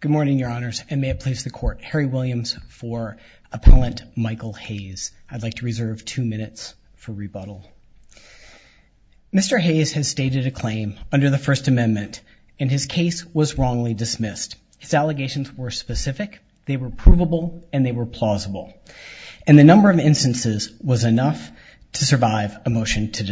Good morning, your honors, and may it please the court. Harry Williams for Appellant Michael Hayes. I'd like to reserve two minutes for rebuttal. Mr. Hayes has stated a claim under the First Amendment and his case was wrongly dismissed. His allegations were specific, they were provable, and they were plausible. And the number of instances was enough to survive a motion to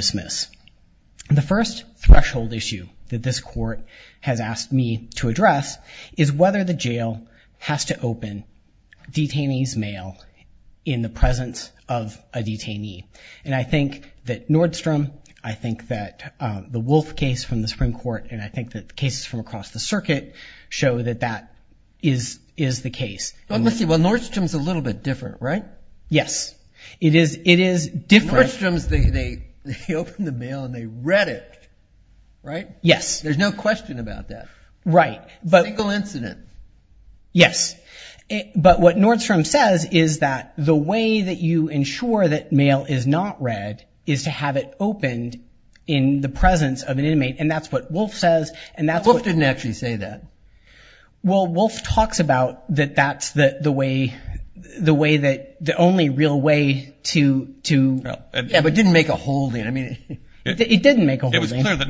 address is whether the jail has to open detainees mail in the presence of a detainee. And I think that Nordstrom, I think that the Wolfe case from the Supreme Court, and I think that cases from across the circuit show that that is is the case. Let's see, well Nordstrom's a little bit different, right? Yes, it is it is different. Nordstrom's, they open the mail and they read it, right? Yes. There's no question about that. Right. Single incident. Yes, but what Nordstrom says is that the way that you ensure that mail is not read is to have it opened in the presence of an inmate, and that's what Wolfe says, and that's what... Wolfe didn't actually say that. Well, Wolfe talks about that that's the way, the way that the only real way to... But it didn't make a holding, I mean... It didn't make a Yes, and I don't mean to say that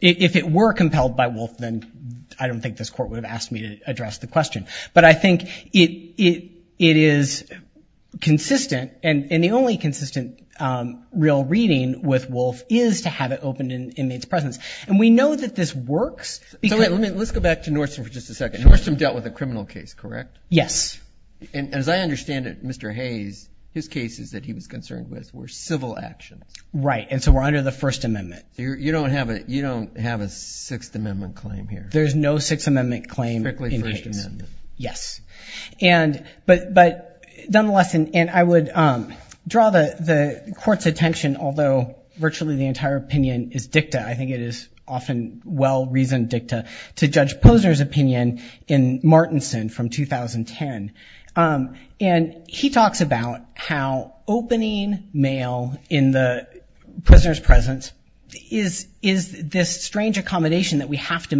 if it were compelled by Wolfe, then I don't think this court would have asked me to address the question. But I think it is consistent, and the only consistent real reading with Wolfe is to have it opened in inmates presence, and we know that this works. So wait, let's go back to Nordstrom for just a second. Nordstrom dealt with a criminal case, correct? Yes. And as I understand it, Mr. Hayes, his cases that he was concerned with were civil actions. Right, and so we're under the First Amendment. You don't have a, you don't have a Sixth Amendment claim here. There's no Sixth Amendment claim in Hayes. Yes, and, but nonetheless, and I would draw the the court's attention, although virtually the entire opinion is dicta, I think it is often well-reasoned dicta, to Judge Posner's opinion in Martinson from 2010. And he talks about how opening mail in the prisoner's presence is this strange accommodation that we have to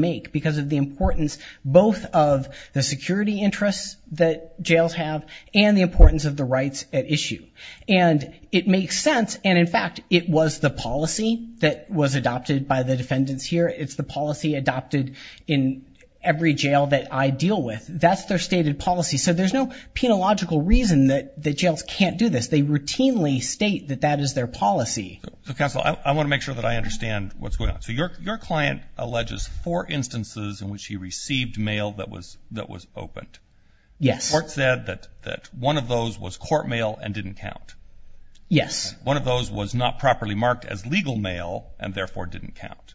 the security interests that jails have, and the importance of the rights at issue. And it makes sense, and in fact, it was the policy that was adopted by the defendants here. It's the policy adopted in every jail that I deal with. That's their stated policy. So there's no penological reason that the jails can't do this. They routinely state that that is their policy. So counsel, I want to make sure that I understand what's going on. So your client alleges four that was opened. Yes. The court said that that one of those was court mail and didn't count. Yes. One of those was not properly marked as legal mail and therefore didn't count.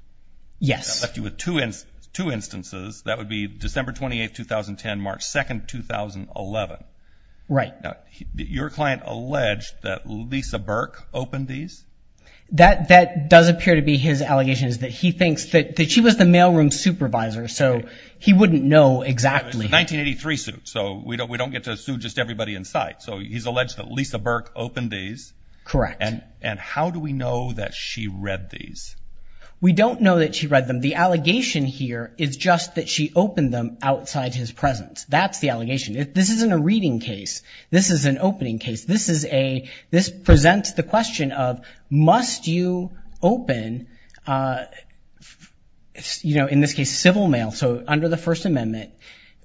Yes. That left you with two instances. That would be December 28th, 2010, March 2nd, 2011. Right. Your client alleged that Lisa Burke opened these? That does appear to be his allegations, that he thinks that she was the mailroom supervisor, so he wouldn't know exactly. 1983 suit, so we don't we don't get to sue just everybody inside. So he's alleged that Lisa Burke opened these. Correct. And how do we know that she read these? We don't know that she read them. The allegation here is just that she opened them outside his presence. That's the allegation. This isn't a reading case. This is an opening case. This is a, this presents the question of must you open, you know, in this case civil mail, so under the First Amendment,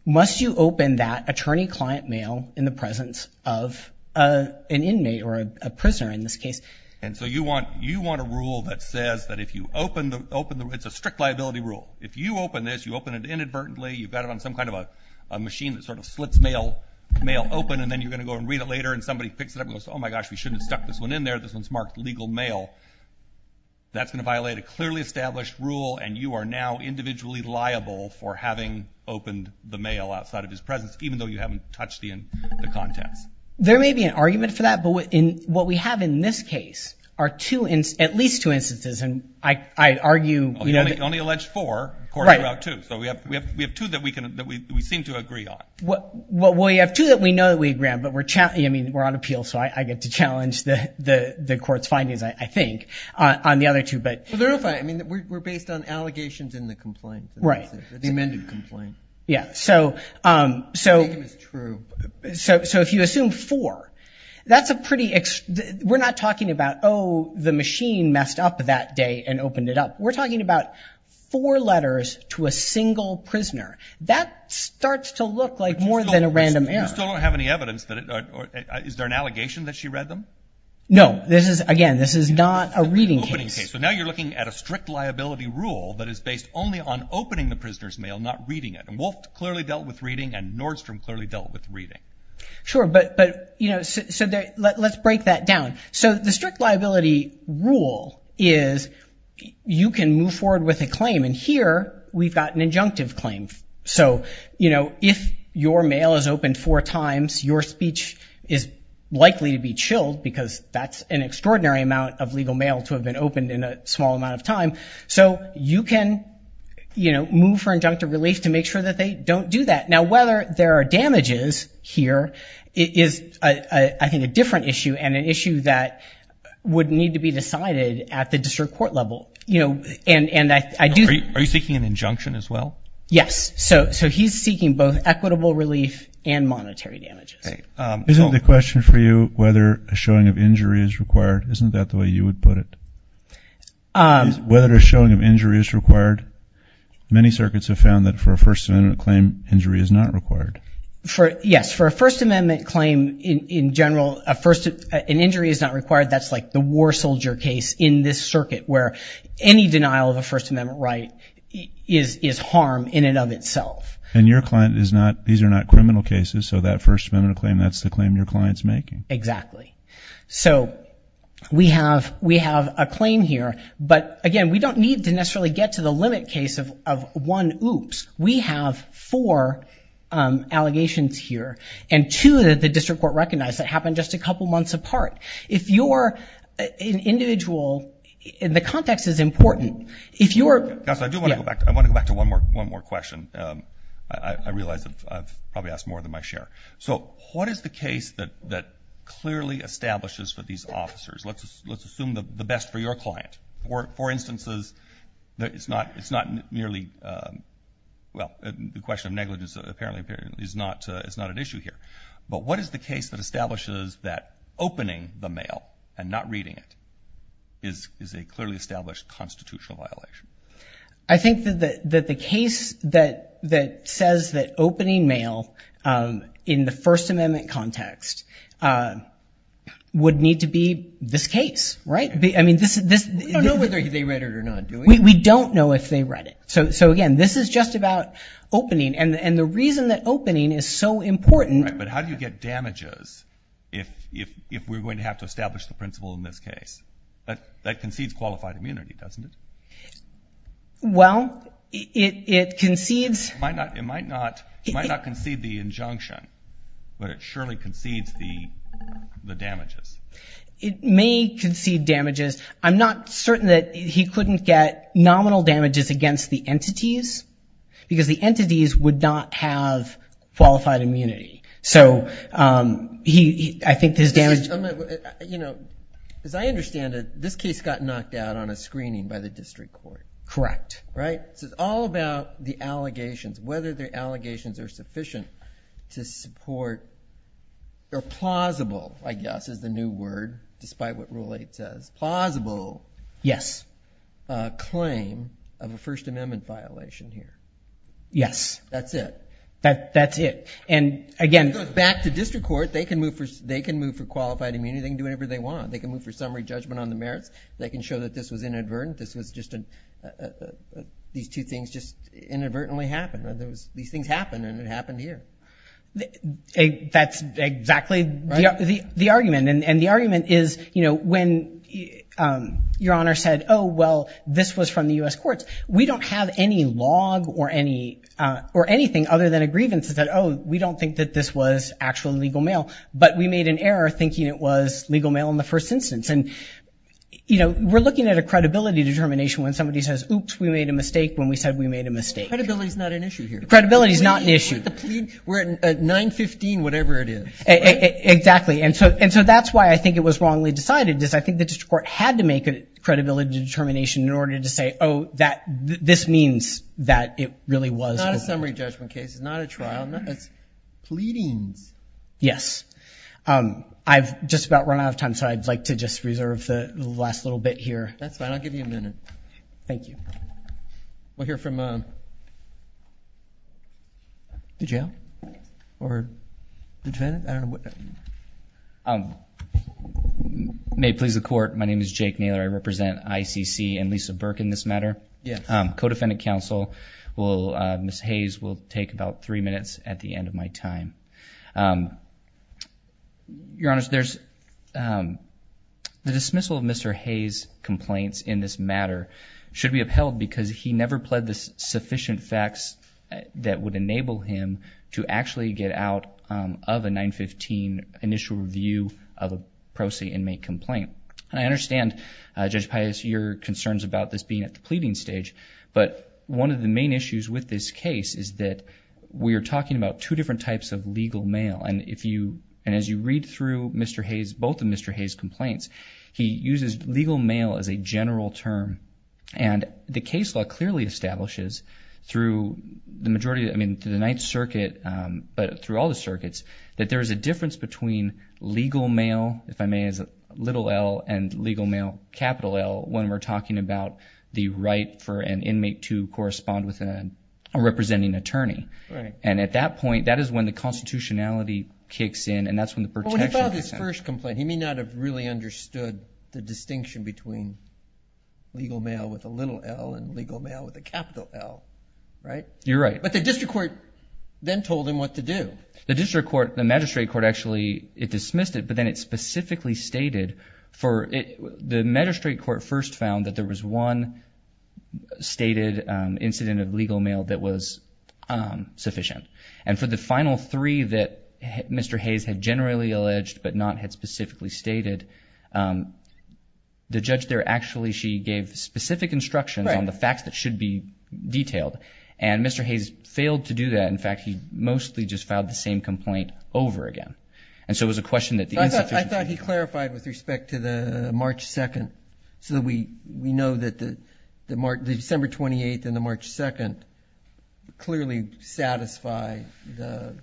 must you open that attorney client mail in the presence of an inmate or a prisoner in this case? And so you want, you want a rule that says that if you open the, open the, it's a strict liability rule. If you open this, you open it inadvertently, you've got it on some kind of a machine that sort of slits mail, mail open and then you're later and somebody picks it up and goes, oh my gosh, we shouldn't have stuck this one in there. This one's marked legal mail. That's gonna violate a clearly established rule and you are now individually liable for having opened the mail outside of his presence, even though you haven't touched the in the contents. There may be an argument for that, but in what we have in this case are two, at least two instances, and I argue, you know, only alleged four according to Route 2. So we have, we have two that we can, that we seem to agree on. Well, we have two that we know that we agree on, but we're, I mean, we're on appeal, so I get to challenge the, the, the court's findings, I think, on the other two, but. Well, they're all fine. I mean, we're based on allegations in the complaint. Right. The amended complaint. Yeah. So, so, so if you assume four, that's a pretty, we're not talking about, oh, the machine messed up that day and opened it up. We're talking about four letters to a single prisoner. That starts to look like more than a random error. You still don't have any evidence that it, is there an allegation that she read them? No, this is, again, this is not a reading case. So now you're looking at a strict liability rule that is based only on opening the prisoner's mail, not reading it, and Wolf clearly dealt with reading and Nordstrom clearly dealt with reading. Sure, but, but, you know, so there, let's break that down. So the strict liability rule is you can move forward with a claim, and here we've got an injunctive claim. So, you know, if your mail is open four times, your speech is likely to be chilled because that's an extraordinary amount of legal mail to have been opened in a small amount of time. So you can, you know, move for injunctive relief to make sure that they don't do that. Now, whether there are damages here is, I think, a different issue and an issue that would need to be decided at the district court level. You know, and, and I do. Are you seeking an injunction as well? Yes, so, so he's seeking both equitable relief and monetary damages. Isn't the question for you whether a showing of injury is required? Isn't that the way you would put it? Whether a showing of injury is required? Many circuits have found that for a First Amendment claim, injury is not required. For, yes, for a First Amendment claim in general, a first, an injury is not required. That's like the war soldier case in this circuit where any denial of a First Amendment right is, is harm in and of itself. And your client is not, these are not criminal cases, so that First Amendment claim, that's the claim your client's making. Exactly. So we have, we have a claim here, but again, we don't need to necessarily get to the limit case of one oops. We have four allegations here and two that the district court recognized that is important. If you're... I do want to go back, I want to go back to one more, one more question. I realize that I've probably asked more than my share. So what is the case that, that clearly establishes for these officers? Let's, let's assume the best for your client. For, for instances that it's not, it's not nearly, well, the question of negligence apparently, apparently is not, it's not an issue here. But what is the case that establishes that opening the mail and not reading it is, is a clearly established constitutional violation? I think that the, that the case that, that says that opening mail in the First Amendment context would need to be this case, right? I mean this, this... We don't know whether they read it or not, do we? We don't know if they read it. So, so again, this is just about opening and, and the reason that opening is so important... But how do you get damages if, if, if we're have to establish the principle in this case? That, that concedes qualified immunity, doesn't it? Well, it, it concedes... It might not, it might not, it might not concede the injunction, but it surely concedes the, the damages. It may concede damages. I'm not certain that he couldn't get nominal damages against the entities, because the entities would not have qualified immunity. So he, I think his damage... You know, as I understand it, this case got knocked out on a screening by the district court. Correct. Right? So it's all about the allegations, whether their allegations are sufficient to support, or plausible, I guess, is the new word, despite what Rule 8 says. Plausible... Yes. ...claim of a First Amendment violation here. Yes. That's it. That, that's it. And again... It goes back to district court. They can move for, they can move for qualified immunity. They can do whatever they want. They can move for summary judgment on the merits. They can show that this was inadvertent. This was just an... These two things just inadvertently happened. There was... These things happened, and it happened here. That's exactly the argument, and the argument is, you know, when Your Honor said, oh, well, this was from the U.S. courts, we don't have any log or any, or anything other than a grievance that, oh, we don't think that this was actually legal mail, but we made an error thinking it was legal mail in the first instance. And, you know, we're looking at a credibility determination when somebody says, oops, we made a mistake when we said we made a mistake. Credibility is not an issue here. Credibility is not an issue. We're at 9-15, whatever it is. Exactly, and so, and so that's why I think it was wrongly decided, because I think the district court had to make a credibility determination in order to say, oh, that this means that it really was... Not a summary judgment case. It's not a Yes. I've just about run out of time, so I'd like to just reserve the last little bit here. That's fine. I'll give you a minute. Thank you. We'll hear from the jail or the defendant. May it please the court, my name is Jake Naylor. I represent ICC and Lisa Burke in this matter. Yes. Codefendant counsel will, Ms. Hayes, will Your Honor, there's the dismissal of Mr. Hayes' complaints in this matter should be upheld because he never pled the sufficient facts that would enable him to actually get out of a 9-15 initial review of a pro se inmate complaint. I understand, Judge Pius, your concerns about this being at the pleading stage, but one of the main issues with this case is that we are talking about two different types of legal mail, and as you read through both of Mr. Hayes' complaints, he uses legal mail as a general term, and the case law clearly establishes through the majority, I mean, through the Ninth Circuit, but through all the circuits, that there is a difference between legal mail, if I may, as a little L, and legal mail, capital L, when we're talking about the right for an inmate to When he filed his first complaint, he may not have really understood the distinction between legal mail with a little L and legal mail with a capital L, right? You're right. But the district court then told him what to do. The district court, the magistrate court, actually, it dismissed it, but then it specifically stated for it, the magistrate court first found that there three that Mr. Hayes had generally alleged, but not had specifically stated, the judge there, actually, she gave specific instructions on the facts that should be detailed, and Mr. Hayes failed to do that. In fact, he mostly just filed the same complaint over again, and so it was a question that the insufficiency... I thought he clarified with respect to the March 2nd, so that we know that the December 28th and the March 2nd clearly satisfy the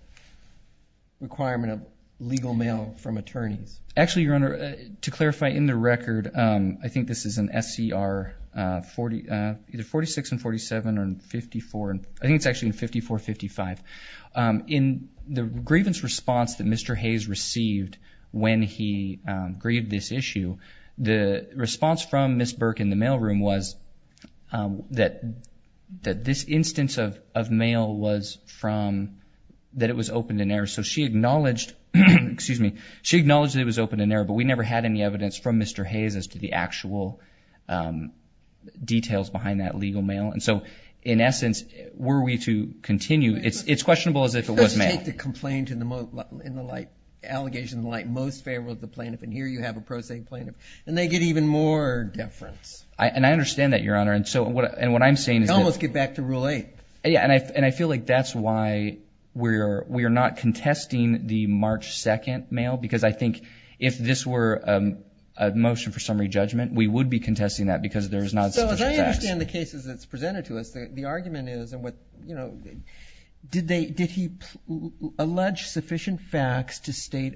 requirement of legal mail from attorneys. Actually, your honor, to clarify, in the record, I think this is an SCR 46 and 47 and 54, I think it's actually in 54-55. In the grievance response that Mr. Hayes received when he grieved this issue, the response from Ms. Burke in the mailroom was that this instance of mail was from, that it was opened in error, so she acknowledged, excuse me, she acknowledged it was open in error, but we never had any evidence from Mr. Hayes as to the actual details behind that legal mail, and so in essence, were we to continue, it's questionable as if it was mail. Take the complaint in the light, allegation in the light, most favorable to the plaintiff, and here you have a prosaic plaintiff, and they get even more deference. And I understand that, your honor, and so, and what I'm saying is... You almost get back to rule 8. Yeah, and I feel like that's why we're, we are not contesting the March 2nd mail, because I think if this were a motion for summary judgment, we would be contesting that, because there's not sufficient facts. So, as I understand the cases that's presented to us, the argument is, and what, you know, did they, did he allege sufficient facts to state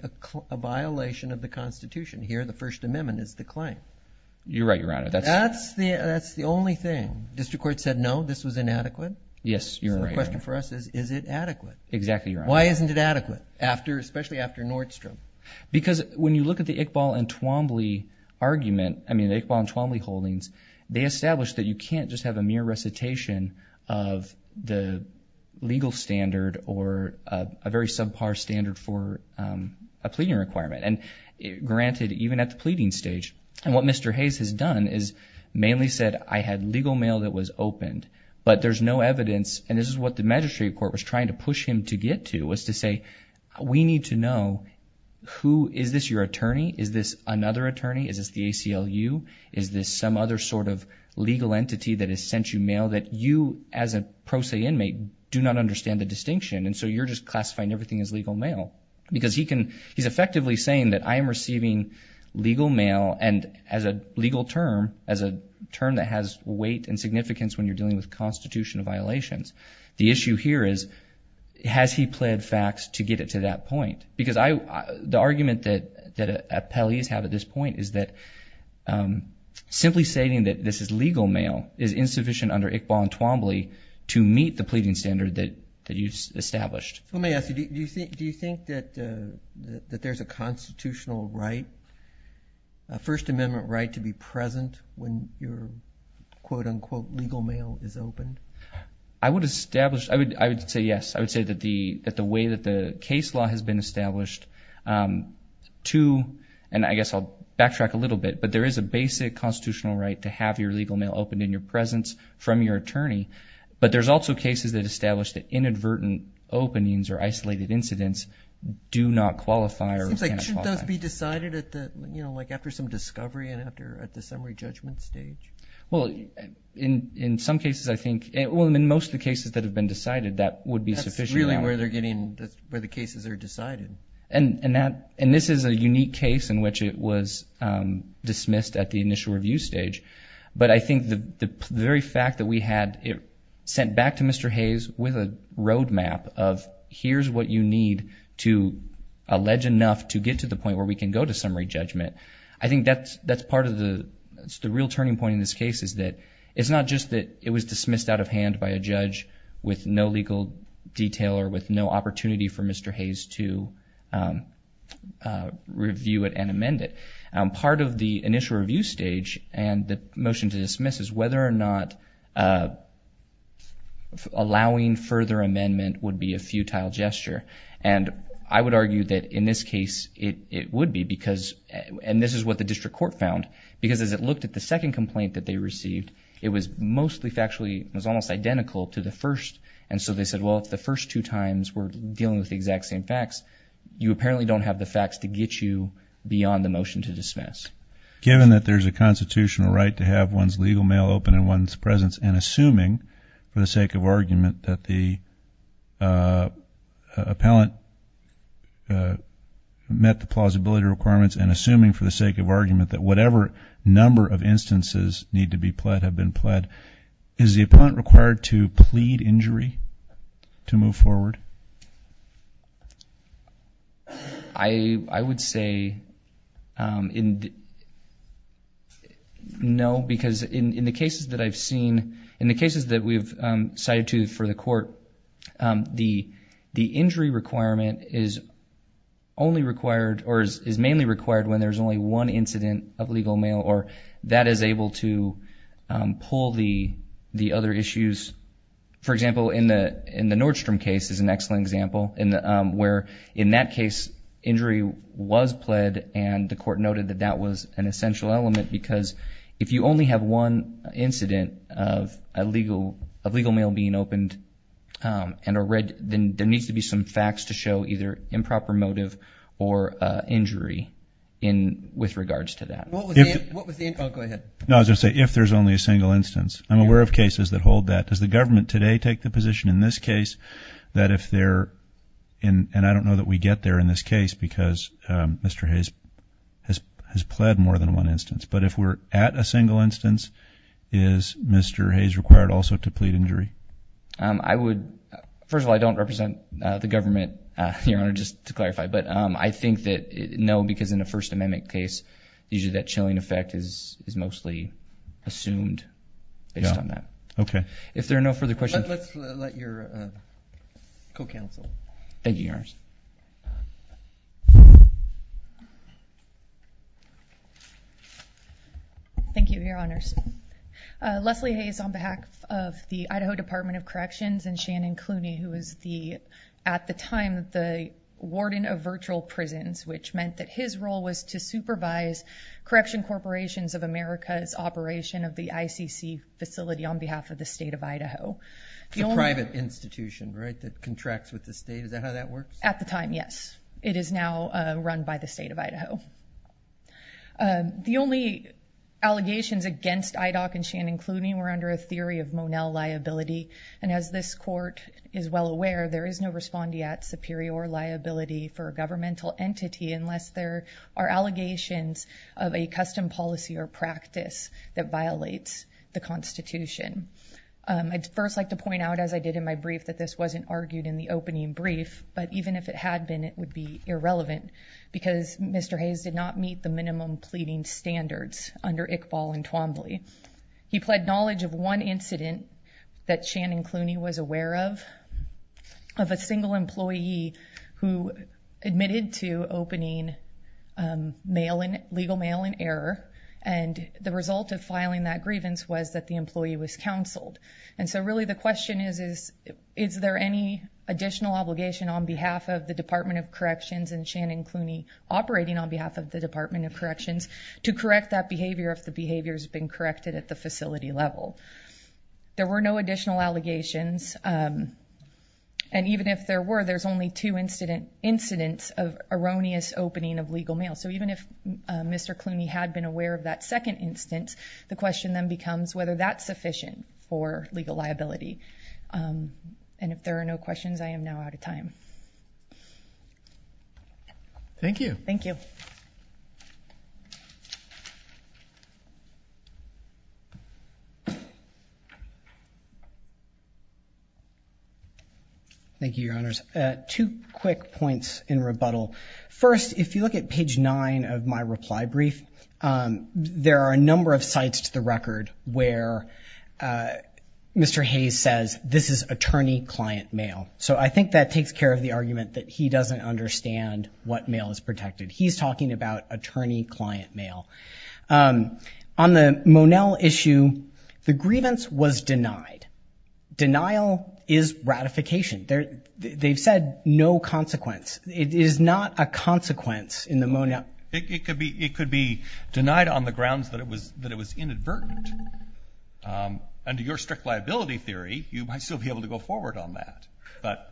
a violation of the Constitution? Here, the You're right, your honor. That's the, that's the only thing. District Court said no, this was inadequate. Yes, you're right. The question for us is, is it adequate? Exactly, your honor. Why isn't it adequate, after, especially after Nordstrom? Because when you look at the Iqbal and Twombly argument, I mean, the Iqbal and Twombly holdings, they established that you can't just have a mere recitation of the legal standard or a very subpar standard for a pleading requirement, and granted, even at the level that Mr. Hayes has done, is mainly said, I had legal mail that was opened, but there's no evidence, and this is what the magistrate court was trying to push him to get to, was to say, we need to know who, is this your attorney? Is this another attorney? Is this the ACLU? Is this some other sort of legal entity that has sent you mail that you, as a pro se inmate, do not understand the distinction, and so you're just classifying everything as legal mail? Because he can, he's effectively saying that I am receiving legal mail, and as a legal term, as a term that has weight and significance when you're dealing with constitutional violations, the issue here is, has he pled facts to get it to that point? Because I, the argument that, that appellees have at this point is that simply stating that this is legal mail is insufficient under Iqbal and Twombly to meet the pleading standard that you've established. Let me ask you, do you think, do you think that there's a constitutional right, a First Amendment right to be present when your quote-unquote legal mail is opened? I would establish, I would, I would say yes. I would say that the, that the way that the case law has been established to, and I guess I'll backtrack a little bit, but there is a basic constitutional right to have your legal mail opened in your presence from your attorney, but there's also cases that establish that inadvertent openings or isolated incidents do not qualify. It seems like, shouldn't those be decided at the, you know, like after some discovery and after, at the summary judgment stage? Well, in, in some cases I think, well, in most of the cases that have been decided, that would be sufficient. That's really where they're getting, where the cases are decided. And, and that, and this is a unique case in which it was dismissed at the initial review stage, but I think the, the very fact that we had it sent back to Mr. Hayes with a need to allege enough to get to the point where we can go to summary judgment, I think that's, that's part of the, the real turning point in this case is that it's not just that it was dismissed out of hand by a judge with no legal detail or with no opportunity for Mr. Hayes to review it and amend it. Part of the initial review stage and the motion to dismiss is whether or not allowing further amendment would be a futile gesture. And I would argue that in this case it, it would be because, and this is what the district court found, because as it looked at the second complaint that they received, it was mostly factually, it was almost identical to the first. And so they said, well, if the first two times we're dealing with the exact same facts, you apparently don't have the facts to get you beyond the motion to dismiss. Given that there's a constitutional right to have one's legal mail open in one's presence and assuming, for the sake of argument, that the appellant met the plausibility requirements and assuming, for the sake of argument, that whatever number of instances need to be pled have been pled, is the appellant required to plead injury to move forward? I, I would say in, no, because in, in the cases that I've seen, in the cases that we've cited to for the court, the, the injury requirement is only required, or is, is mainly required when there's only one incident of legal mail or that is able to pull the, the other issues. For example, in the, in the Nordstrom case is an excellent example, in the, where in that case injury was pled and the court noted that that was an essential element because if you only have one incident of a legal, of legal mail being opened and a red, then there needs to be some facts to show either improper motive or injury in, with regards to that. What was the, what was the, oh, go ahead. No, I was going to say, if there's only a single instance. I'm aware of cases that hold that. Does the government today take the position in this case that if they're in, and I don't know that we get there in this case because Mr. Hayes has, has pled more than one instance, but if we're at a single instance, is Mr. Hayes required also to plead injury? I would, first of all, I don't represent the government, Your Honor, just to clarify, but I think that, no, because in a First Amendment case, usually that chilling effect is, is mostly assumed based on that. Okay. If Thank you, Your Honors. Leslie Hayes on behalf of the Idaho Department of Corrections and Shannon Clooney, who was the, at the time, the warden of virtual prisons, which meant that his role was to supervise correction corporations of America's operation of the ICC facility on behalf of the state of Idaho. The private institution, right, that contracts with the state. Is that how that works? At the time, yes. It is now run by the state of Idaho. The only allegations against IDOC and Shannon Clooney were under a theory of Monell liability. And as this court is well aware, there is no respondeat superior liability for a governmental entity unless there are allegations of a custom policy or practice that violates the Constitution. I'd first like to point out, as I did in my brief, that this wasn't argued in the opening brief, but even if it had been, it would be irrelevant because Mr. Hayes did not meet the minimum pleading standards under Iqbal and Twombly. He pled knowledge of one incident that Shannon Clooney was aware of, of a single employee who admitted to opening mail in, legal mail in error, and the result of filing that grievance was that the is there any additional obligation on behalf of the Department of Corrections and Shannon Clooney operating on behalf of the Department of Corrections to correct that behavior if the behavior has been corrected at the facility level? There were no additional allegations. Um, and even if there were, there's only two incident incidents of erroneous opening of legal mail. So even if Mr Clooney had been aware of that second instance, the question then sufficient for legal liability. Um, and if there are no questions, I am now out of time. Thank you. Thank you. Thank you, your honors. Two quick points in rebuttal. First, if you look at page nine of my reply brief, um, there are a number of sites to the record where, uh, Mr. Hayes says this is attorney client mail. So I think that takes care of the argument that he doesn't understand what mail is protected. He's talking about attorney client mail. Um, on the Monell issue, the grievance was denied. Denial is ratification. They're, they've said no consequence. It is not a consequence in the Monell. It could be, it could be denied on the grounds that it was, that it was inadvertent. Um, under your strict liability theory, you might still be able to go forward on that, but.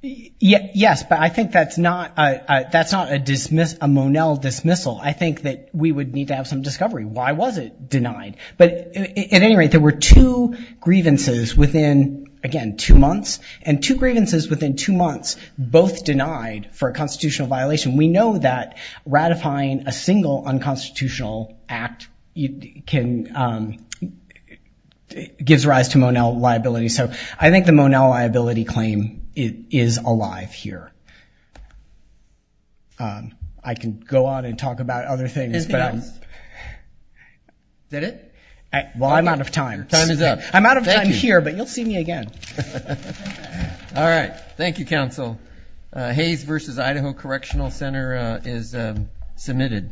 Yes, but I think that's not a, that's not a dismiss, a Monell dismissal. I think that we would need to have some discovery. Why was it denied? But at any rate, there were two grievances within, again, two months and two grievances within two months, both denied for a constitutional violation. We know that ratifying a single unconstitutional act, you can, um, gives rise to Monell liability. So I think the Monell liability claim is alive here. Um, I can go on and talk about other things, but. Is it? Well, I'm out of time. Time is up. I'm out of time here, but you'll see me again. All right. Thank you, Counsel. Hayes versus Idaho Correctional Center is submitted.